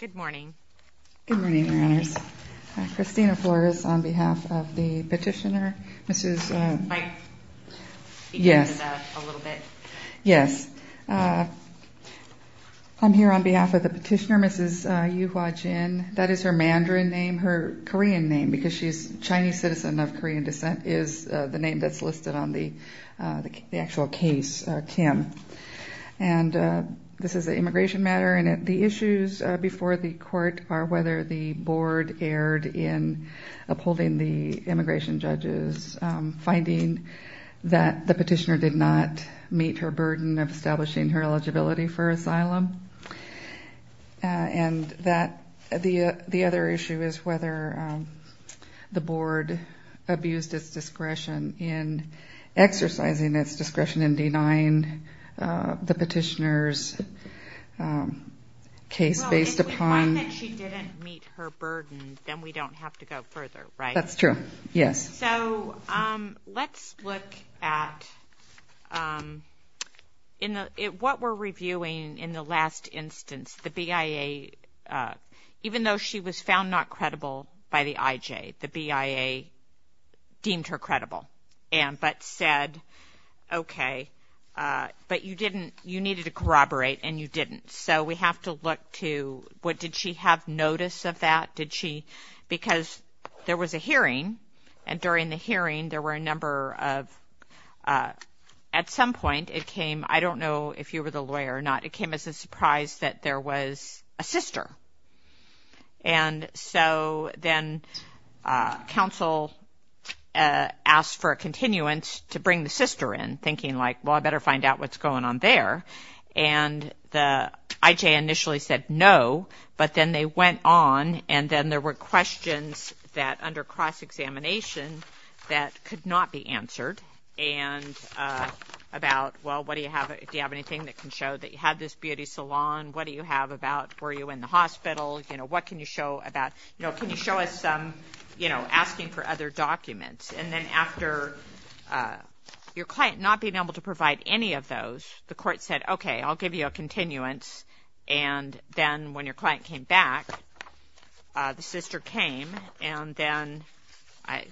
Good morning. Good morning, Your Honors. Christina Flores, on behalf of the petitioner, Mrs. Yes. Yes. I'm here on behalf of the petitioner, Mrs. Yu Hua Jin. That is her Mandarin name, her Korean name, because she's a Chinese citizen of Korean descent, is the name that's listed on the actual case, Kim. And this is an immigration matter, and the issues before the court are whether the board erred in upholding the immigration judge's finding that the petitioner did not meet her burden of establishing her eligibility for asylum. And the other issue is whether the board abused its discretion in exercising its discretion in denying the petitioner's case based upon Well, if we find that she didn't meet her burden, then we don't have to go further, right? That's true. Yes. So let's look at what we're reviewing in the last instance, the BIA, even though she was found not credible by the IJ, the BIA deemed her credible, but said, okay, but you didn't, you needed to corroborate and you didn't. So we have to look to what did she have notice of that? Did she, because there was a hearing, and during the hearing, there were a number of, at some point, it came, I don't know if you were the So then counsel asked for a continuance to bring the sister in, thinking like, well, I better find out what's going on there. And the IJ initially said no, but then they went on, and then there were questions that under cross-examination that could not be answered, and about, well, what do you have, do you have anything that can show that you had this beauty salon? What do you have about, were you in the hospital? You know, what can you show about, you know, can you show us some, you know, asking for other documents? And then after your client not being able to provide any of those, the court said, okay, I'll give you a continuance. And then when your client came back, the sister came, and then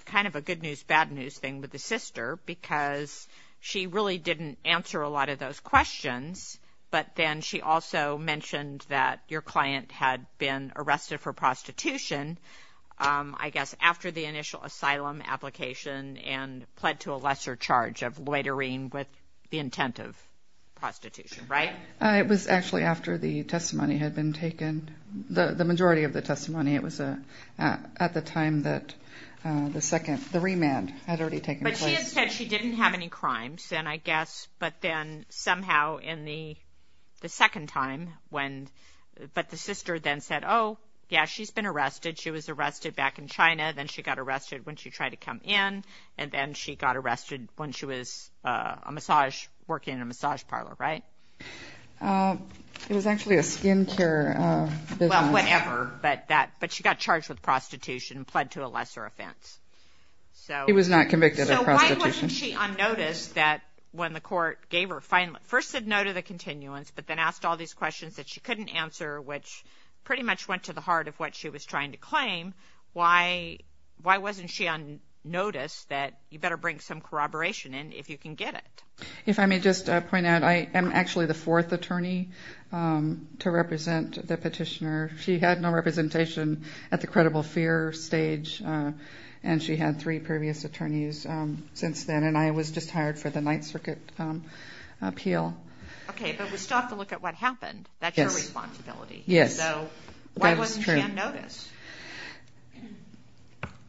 kind of a good news, bad news thing with the sister, because she really didn't answer a lot of those questions, but then she also mentioned that your client had been arrested for prostitution, I guess, after the initial asylum application, and pled to a lesser charge of loitering with the intent of prostitution, right? It was actually after the testimony had been taken. The majority of the testimony, it was at the time that the second, the remand had already taken place. But she had said she didn't have any crimes then, I guess, but then somehow in the second time, when, but the sister then said, oh, yeah, she's been arrested. She was arrested back in China, then she got arrested when she tried to come in, and then she got arrested when she was a massage, working in a massage parlor, right? It was actually a skin care business. Well, whatever, but that, but she got charged with prostitution and pled to a lesser offense, so. She was not convicted of prostitution. So why wasn't she on notice that when the court gave her, first said no to the continuance, but then asked all these questions that she couldn't answer, which pretty much went to the heart of what she was trying to claim, why, why wasn't she on notice that you better bring some corroboration in if you can get it? If I may just point out, I am actually the fourth attorney to represent the petitioner. She had no representation at the credible fear stage, and she had three previous attorneys since then, and I was just hired for the Ninth Circuit appeal. Okay, but we still have to look at what happened. Yes. That's your responsibility. Yes. So why wasn't she on notice?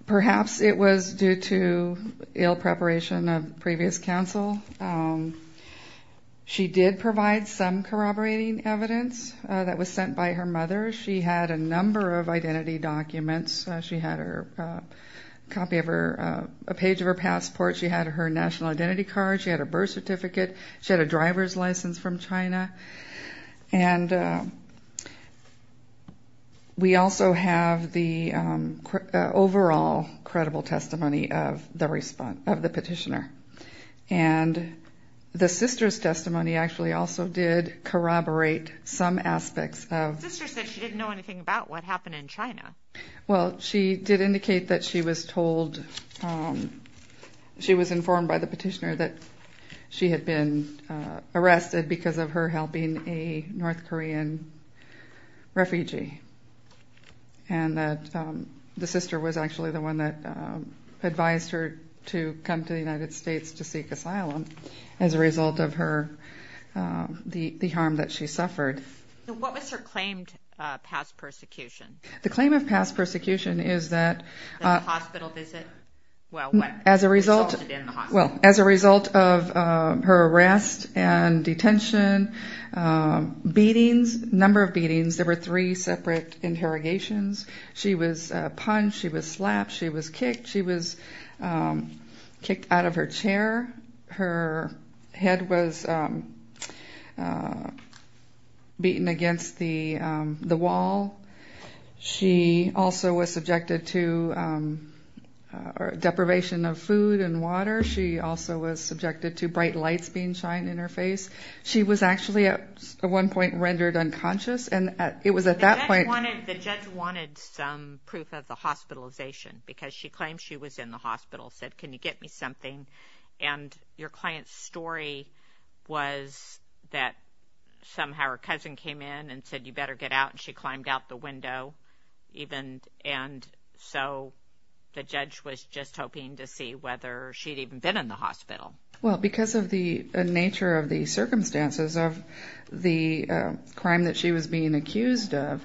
Perhaps it was due to ill preparation of previous counsel. She did provide some corroborating evidence that was sent by her mother. She had a number of identity documents. She had a copy of her, a page of her passport. She had her national identity card. She had a birth certificate. She had a driver's license from China. And we also have the overall credible testimony of the petitioner, and the sister's testimony actually also did corroborate some aspects of Sister said she didn't know anything about what happened in China. Well, she did indicate that she was told, she was informed by the petitioner that she had been arrested because of her health being a North Korean refugee, and that the sister was actually the one that advised her to come to the United States to seek asylum as a result of her, the harm that she suffered. What was her claim to past persecution? The claim of past persecution is that The hospital visit? Well, what? As a result Resulted in the hospital Well, as a result of her arrest and detention, beatings, number of beatings, there were three separate interrogations. She was punched. She was slapped. She was kicked. She was kicked out of her chair. Her head was beaten against the wall. She also was subjected to deprivation of food and water. She also was subjected to bright lights being shined in her face. She was actually at one point rendered unconscious, and it was at that point The judge wanted some proof of the hospitalization because she claimed she was in the hospital, said, can you get me something? And your client's story was that somehow her cousin came in and said, you better get out. She climbed out the window, and so the judge was just hoping to see whether she'd even been in the hospital. Well, because of the nature of the circumstances of the crime that she was being accused of,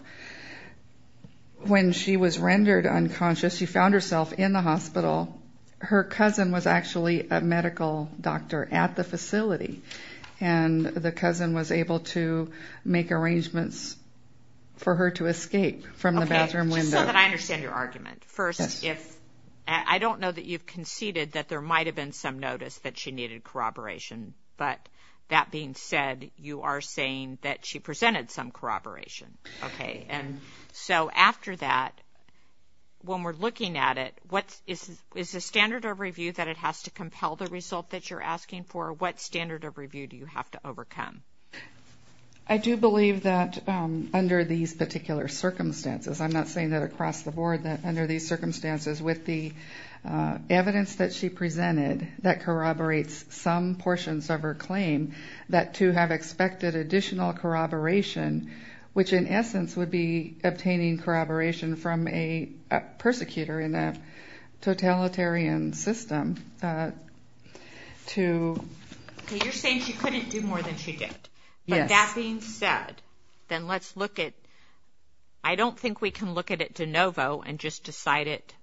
When she was rendered unconscious, she found herself in the hospital. Her cousin was actually a medical doctor at the facility, And the cousin was able to make arrangements for her to escape from the bathroom window. Okay, just so that I understand your argument. First, I don't know that you've conceded that there might have been some notice that she needed corroboration, But that being said, you are saying that she presented some corroboration. Okay, and so after that, when we're looking at it, Is the standard of review that it has to compel the result that you're asking for? What standard of review do you have to overcome? I do believe that under these particular circumstances, I'm not saying that across the board, that under these circumstances, With the evidence that she presented that corroborates some portions of her claim, That to have expected additional corroboration, Which in essence would be obtaining corroboration from a persecutor in a totalitarian system, To... Okay, you're saying she couldn't do more than she did. Yes. But that being said, then let's look at... I don't think we can look at it de novo and just decide it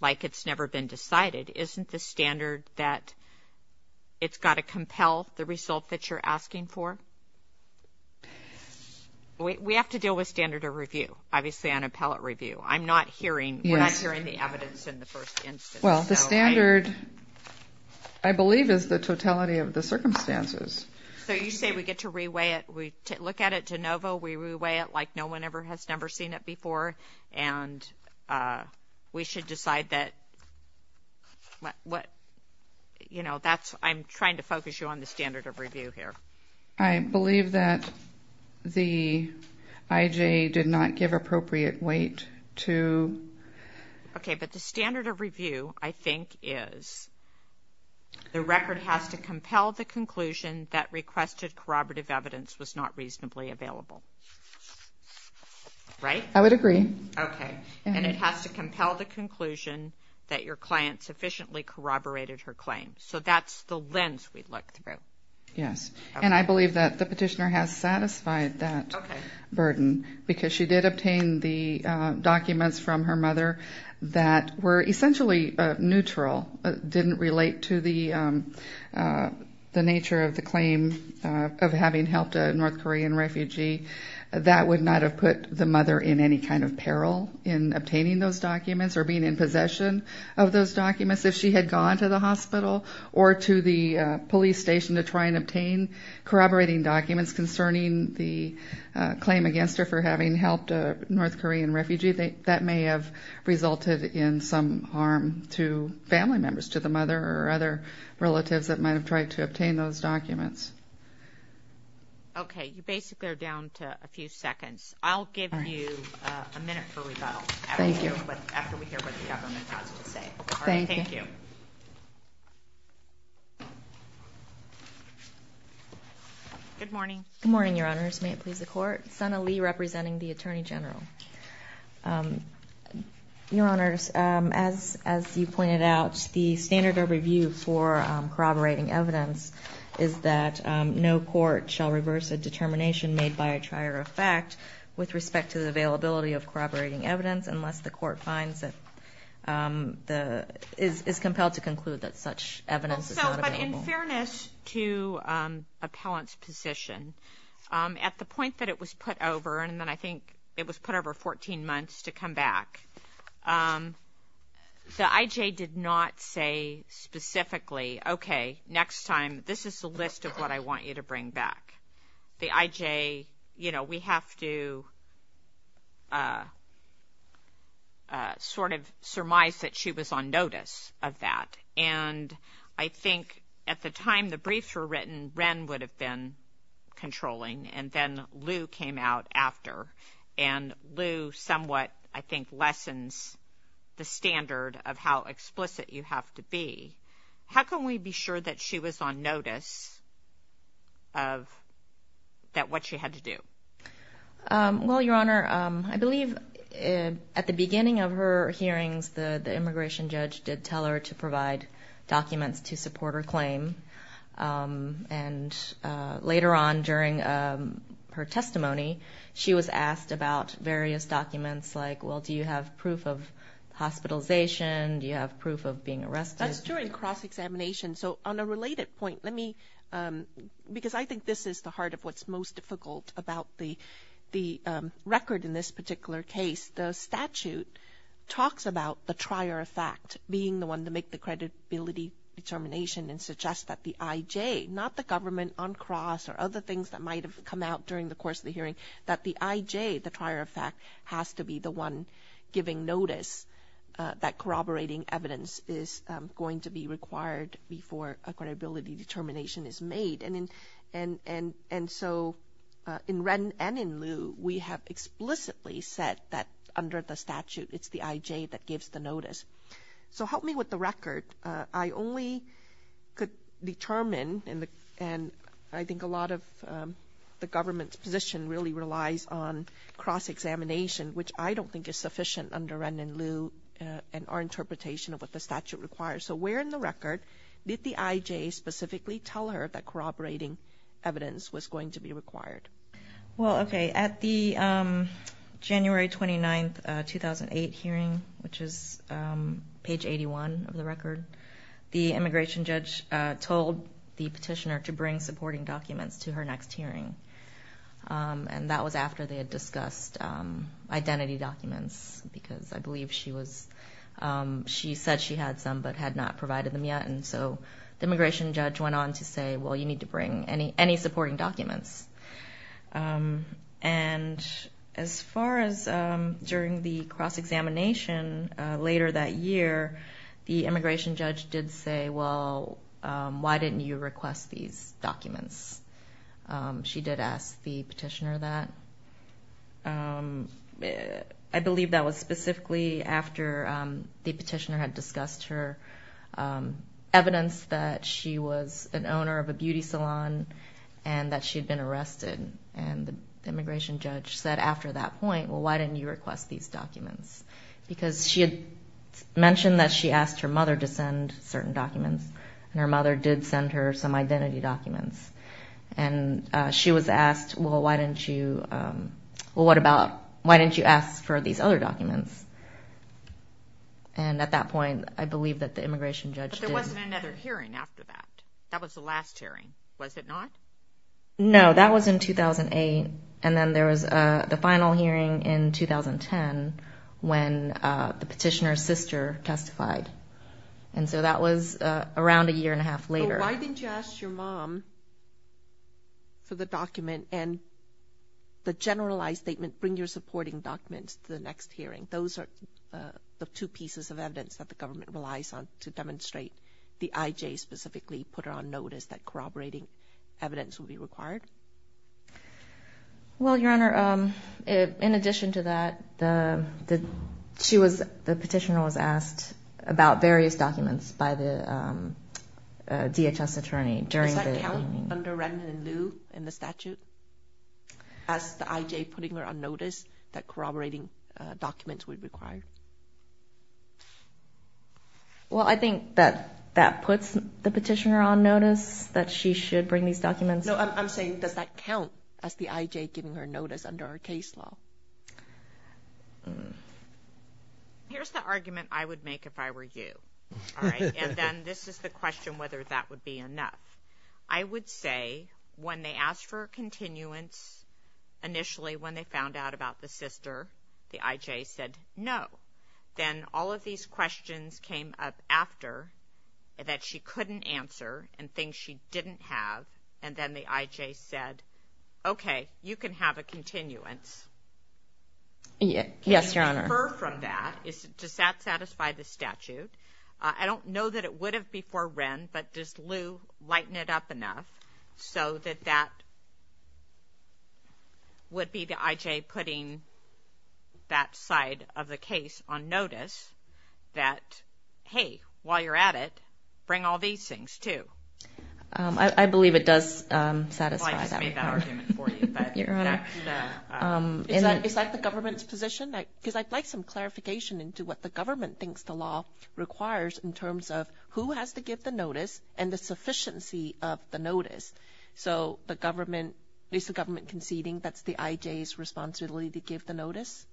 like it's never been decided. Isn't the standard that it's got to compel the result that you're asking for? We have to deal with standard of review, obviously on appellate review. I'm not hearing... Yes. We're not hearing the evidence in the first instance. Well, the standard, I believe, is the totality of the circumstances. So you say we get to re-weigh it, we look at it de novo, We re-weigh it like no one has ever seen it before, And we should decide that... You know, I'm trying to focus you on the standard of review here. I believe that the IJ did not give appropriate weight to... Okay, but the standard of review, I think, is the record has to compel the conclusion that requested corroborative evidence was not reasonably available. Right? I would agree. Okay. And it has to compel the conclusion that your client sufficiently corroborated her claim. So that's the lens we look through. Yes. And I believe that the petitioner has satisfied that burden because she did obtain the documents from her mother that were essentially neutral, didn't relate to the nature of the claim of having helped a North Korean refugee. That would not have put the mother in any kind of peril in obtaining those documents or being in possession of those documents if she had gone to the hospital or to the police station to try and obtain corroborating documents concerning the claim against her for having helped a North Korean refugee. That may have resulted in some harm to family members, to the mother or other relatives that might have tried to obtain those documents. Okay. You basically are down to a few seconds. I'll give you a minute for rebuttal... Thank you. Thank you. All right. Thank you. Good morning. Good morning, Your Honors. May it please the Court. Sana Lee representing the Attorney General. Your Honors, as you pointed out, the standard of review for corroborating evidence is that no court shall reverse a determination made by a trier of fact with respect to the availability of corroborating evidence unless the court finds that... is compelled to conclude that such evidence is not available. But in fairness to Appellant's position, at the point that it was put over, and then I think it was put over 14 months to come back, the I.J. did not say specifically, okay, next time, this is the list of what I want you to bring back. The I.J., you know, we have to sort of surmise that she was on notice of that. And I think at the time the briefs were written, Wren would have been controlling, and then Lou came out after. And Lou somewhat, I think, lessens the standard of how explicit you have to be. How can we be sure that she was on notice of that what she had to do? Well, Your Honor, I believe at the beginning of her hearings, the immigration judge did tell her to provide documents to support her claim. And later on during her testimony, she was asked about various documents like, well, do you have proof of hospitalization? Do you have proof of being arrested? That's during cross-examination. So on a related point, let me... because I think this is the heart of what's most difficult about the record in this particular case. The statute talks about the trier of fact being the one to make the credibility determination and suggests that the I.J., not the government on cross or other things that might have come out during the course of the hearing, that the I.J., the trier of fact, has to be the one giving notice that corroborating evidence is going to be required before a credibility determination is made. And so in Wren and in Lou, we have explicitly said that under the statute it's the I.J. that gives the notice. So help me with the record. I only could determine, and I think a lot of the government's position really relies on cross-examination, which I don't think is sufficient under Wren and Lou and our interpretation of what the statute requires. So where in the record did the I.J. specifically tell her that corroborating evidence was going to be required? Well, okay, at the January 29, 2008 hearing, which is page 81 of the record, the immigration judge told the petitioner to bring supporting documents to her next hearing. And that was after they had discussed identity documents, because I believe she said she had some but had not provided them yet. And so the immigration judge went on to say, well, you need to bring any supporting documents. And as far as during the cross-examination, later that year, the immigration judge did say, well, why didn't you request these documents? She did ask the petitioner that. I believe that was specifically after the petitioner had discussed her evidence that she was an owner of a beauty salon and that she had been arrested. And the immigration judge said after that point, well, why didn't you request these documents? Because she had mentioned that she asked her mother to send certain documents, and her mother did send her some identity documents. And she was asked, well, why didn't you... well, what about... why didn't you ask for these other documents? And at that point, I believe that the immigration judge did. There wasn't another hearing after that. That was the last hearing, was it not? No, that was in 2008. And then there was the final hearing in 2010 when the petitioner's sister testified. And so that was around a year and a half later. Well, why didn't you ask your mom for the document and the generalized statement, bring your supporting documents to the next hearing? Those are the two pieces of evidence that the government relies on to demonstrate the I.J. specifically put her on notice that corroborating evidence would be required. Well, Your Honor, in addition to that, the...she was... the petitioner was asked about various documents by the, um, DHS attorney during the... Is that counting under Rendon and Liu in the statute? As the I.J. putting her on notice that corroborating documents would be required? Well, I think that that puts the petitioner on notice that she should bring these documents... No, I'm saying, does that count as the I.J. giving her notice under our case law? Mmm. Here's the argument I would make if I were you, all right? And then this is the question whether that would be enough. I would say when they asked for a continuance, initially when they found out about the sister, the I.J. said no. Then all of these questions came up after that she couldn't answer and things she didn't have, and then the I.J. said, okay, you can have a continuance. Yes, Your Honor. Can you defer from that? Does that satisfy the statute? I don't know that it would have before Rend, but does Liu lighten it up enough so that that... would be the I.J. putting that side of the case on notice that, hey, while you're at it, bring all these things, too? I believe it does satisfy that. I'll just make that argument for you. Your Honor. Is that the government's position? Because I'd like some clarification into what the government thinks the law requires in terms of who has to give the notice and the sufficiency of the notice. So the government, is the government conceding that's the I.J.'s responsibility to give the notice?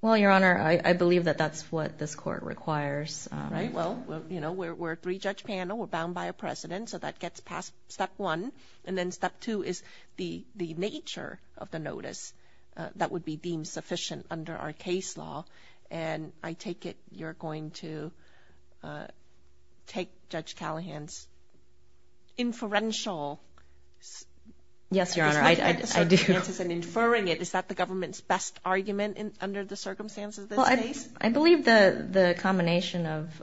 Well, Your Honor, I believe that that's what this court requires. Right, well, you know, we're a three-judge panel, we're bound by a precedent, so that gets past step one, and then step two is the nature of the notice that would be deemed sufficient under our case law, and I take it you're going to... take Judge Callahan's... inferential... Yes, Your Honor, I do. ...and inferring it, is that the government's best argument under the circumstances of this case? Well, I believe the combination of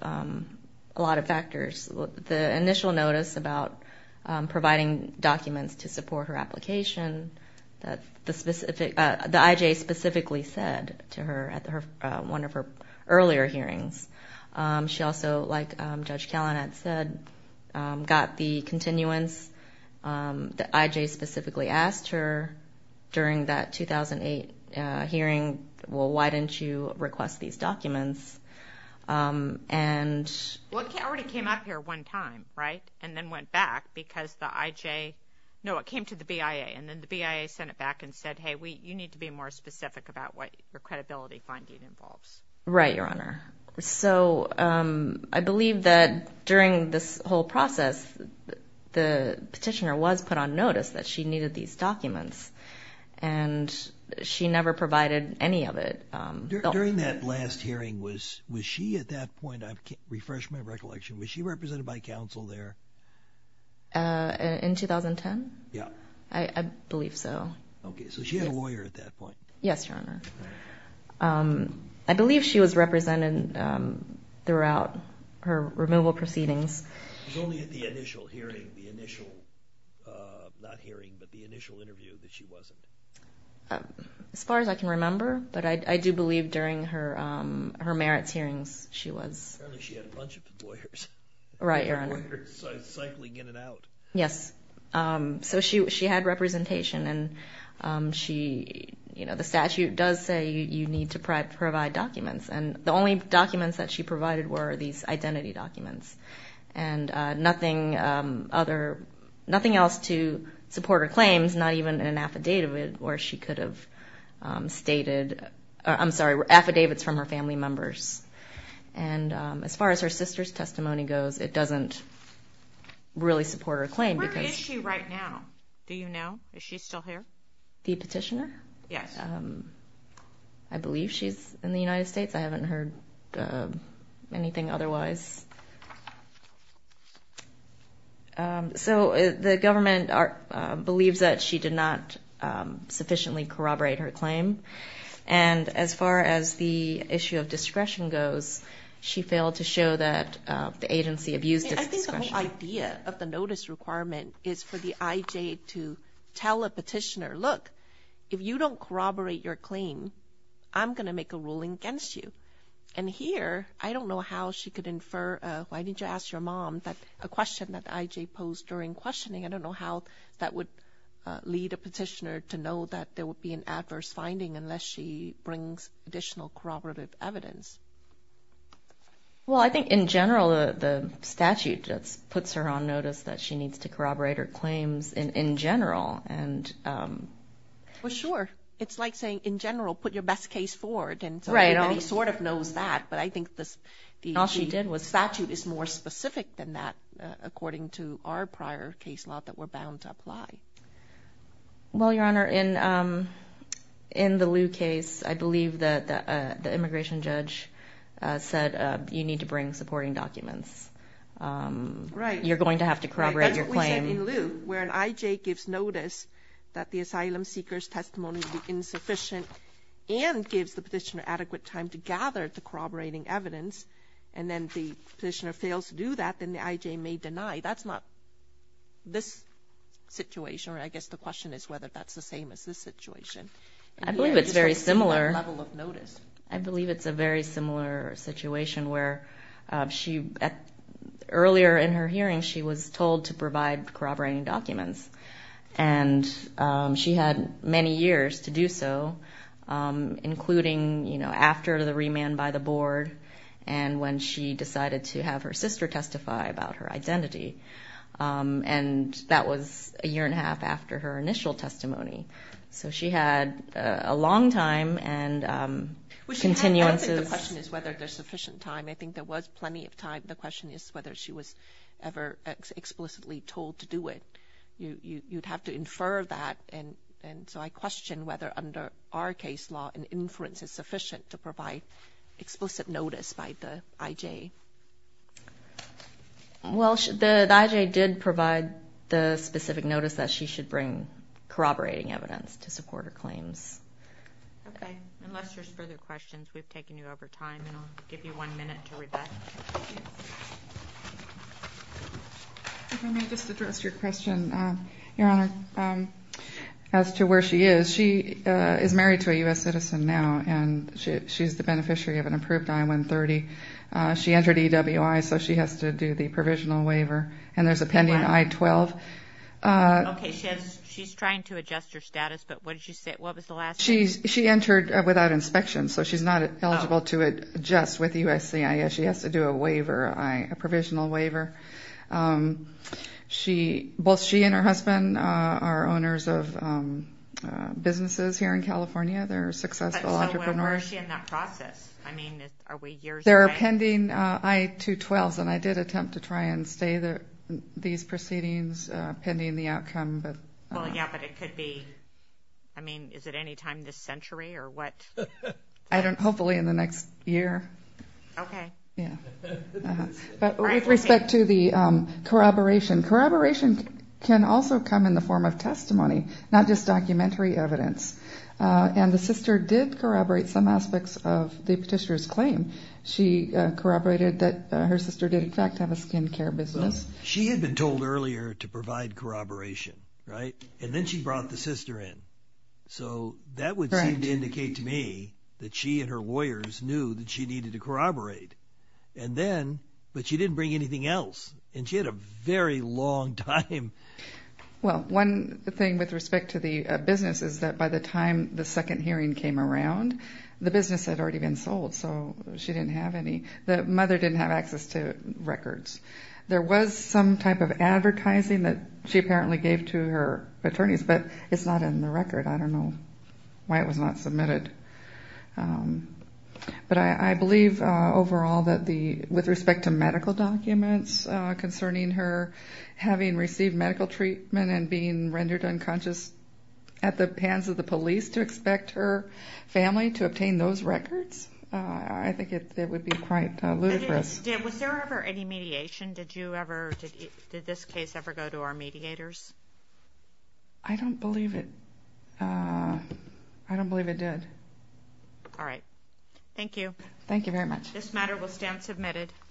a lot of factors. The initial notice about providing documents to support her application that the specific... the I.J. specifically said to her at one of her earlier hearings. She also, like Judge Callahan had said, got the continuance that I.J. specifically asked her during that 2008 hearing, well, why didn't you request these documents? Um, and... Well, it already came up here one time, right? And then went back, because the I.J. No, it came to the BIA, and then the BIA sent it back and said, hey, you need to be more specific about what your credibility finding involves. Right, Your Honor. So, um, I believe that during this whole process, the petitioner was put on notice that she needed these documents, and she never provided any of it. During that last hearing, was she at that point, I refresh my recollection, was she represented by counsel there? Uh, in 2010? Yeah. I believe so. Okay, so she had a lawyer at that point. Yes, Your Honor. I believe she was represented throughout her removal proceedings. It was only at the initial hearing, the initial, uh, not hearing, but the initial interview, that she wasn't. As far as I can remember, but I do believe during her, um, her merits hearings, she was... Apparently she had a bunch of lawyers. Right, Your Honor. Lawyers cycling in and out. Yes, um, so she had representation, and, um, she, you know, the statute does say you need to provide documents, and the only documents that she provided were these identity documents. And, uh, nothing, um, other, nothing else to support her claims, not even an affidavit where she could have um, stated, I'm sorry, affidavits from her family members. And, um, as far as her sister's testimony goes, it doesn't really support her claim because... Where is she right now? Do you know? Is she still here? The petitioner? Yes. I believe she's in the United States. I haven't heard, uh, anything otherwise. Um, so the government believes that she did not um, sufficiently corroborate her claim. And as far as the issue of discretion goes, she failed to show that the agency abused its discretion. I think the whole idea of the notice requirement is for the IJ to tell a petitioner, look, if you don't corroborate your claim, I'm going to make a ruling against you. And here, I don't know how she could infer, uh, why did you ask your mom, a question that the IJ posed during questioning. I don't know how that would lead a petitioner to know that there would be an adverse finding unless she brings additional corroborative evidence. Well, I think in general the statute puts her on notice that she needs to corroborate her claims in general. And, um... Well, sure. It's like saying, in general, put your best case forward, and so everybody sort of knows that, but I think the statute is more specific than that, according to our prior case law that we're bound to apply. Well, Your Honor, in, um, in the Liu case, I believe that the immigration judge, uh, said you need to bring supporting documents. Um, you're going to have to corroborate your claim. That's what we said in Liu, where an IJ gives notice that the asylum seeker's testimony is insufficient, and gives the petitioner adequate time to gather the corroborating evidence, and then the petitioner fails to do that, then the IJ may deny. That's not this situation, or I guess the question is whether that's the same as this situation. I believe it's very similar. I believe it's a very similar situation, where, um, she earlier in her hearing she was told to provide corroborating documents, and um, she had many years to do so, um, including, you know, after the remand by the board, and when she decided to have her sister testify about her identity. Um, and that was a year and a half after her initial testimony. So she had a long time, and, um, I don't think the question is whether there's sufficient time. I think there was plenty of time. The question is whether she was ever explicitly told to do it. You'd have to infer that, and so I question whether under our case law, an inference is sufficient to provide explicit notice by the IJ. Well, the IJ did provide the specific notice that she should bring corroborating evidence to support her claims. Okay. Unless there's further questions, we've taken you over time, and I'll give you one minute to read that. If I may just address your question, Your Honor, as to where she is, she is married to a U.S. citizen now, and she's the beneficiary of an approved I-130. She entered EWI, so she has to do the provisional waiver, and there's a pending I-12. Okay, she's trying to adjust her status, but what did she say? She entered without inspection, so she's not eligible to adjust with USCIS. She has to do a waiver, a provisional waiver. Both she and her husband are owners of businesses here in California. They're successful entrepreneurs. So where is she in that process? I mean, are we years away? They're pending I-212s, and I did attempt to try and stay these proceedings pending the outcome, but... Well, yeah, but it could be... I mean, is it any time this century, or what? I don't... Hopefully in the next year. Okay. But with respect to the corroboration, corroboration can also come in the form of testimony, not just documentary evidence. And the sister did corroborate some aspects of the petitioner's claim. She corroborated that her sister did, in fact, have a skin care business. She had been told earlier to provide corroboration, right? And then she brought the sister in. So that would seem to indicate to me that she and her lawyers knew that she needed to corroborate. And then... But she didn't bring anything else. And she had a very long time. Well, one thing with respect to the business is that by the time the second hearing came around, the business had already been sold, so she didn't have any... The mother didn't have access to records. There was some type of advertising that she apparently gave to her record. I don't know why it was not submitted. But I believe overall that the... With respect to medical documents concerning her having received medical treatment and being rendered unconscious at the hands of the police to expect her family to obtain those records, I think it would be quite ludicrous. Was there ever any mediation? Did you ever... Did this case ever go to our mediators? I don't believe it. I don't believe it did. Alright. Thank you. Thank you very much. This matter will stand submitted.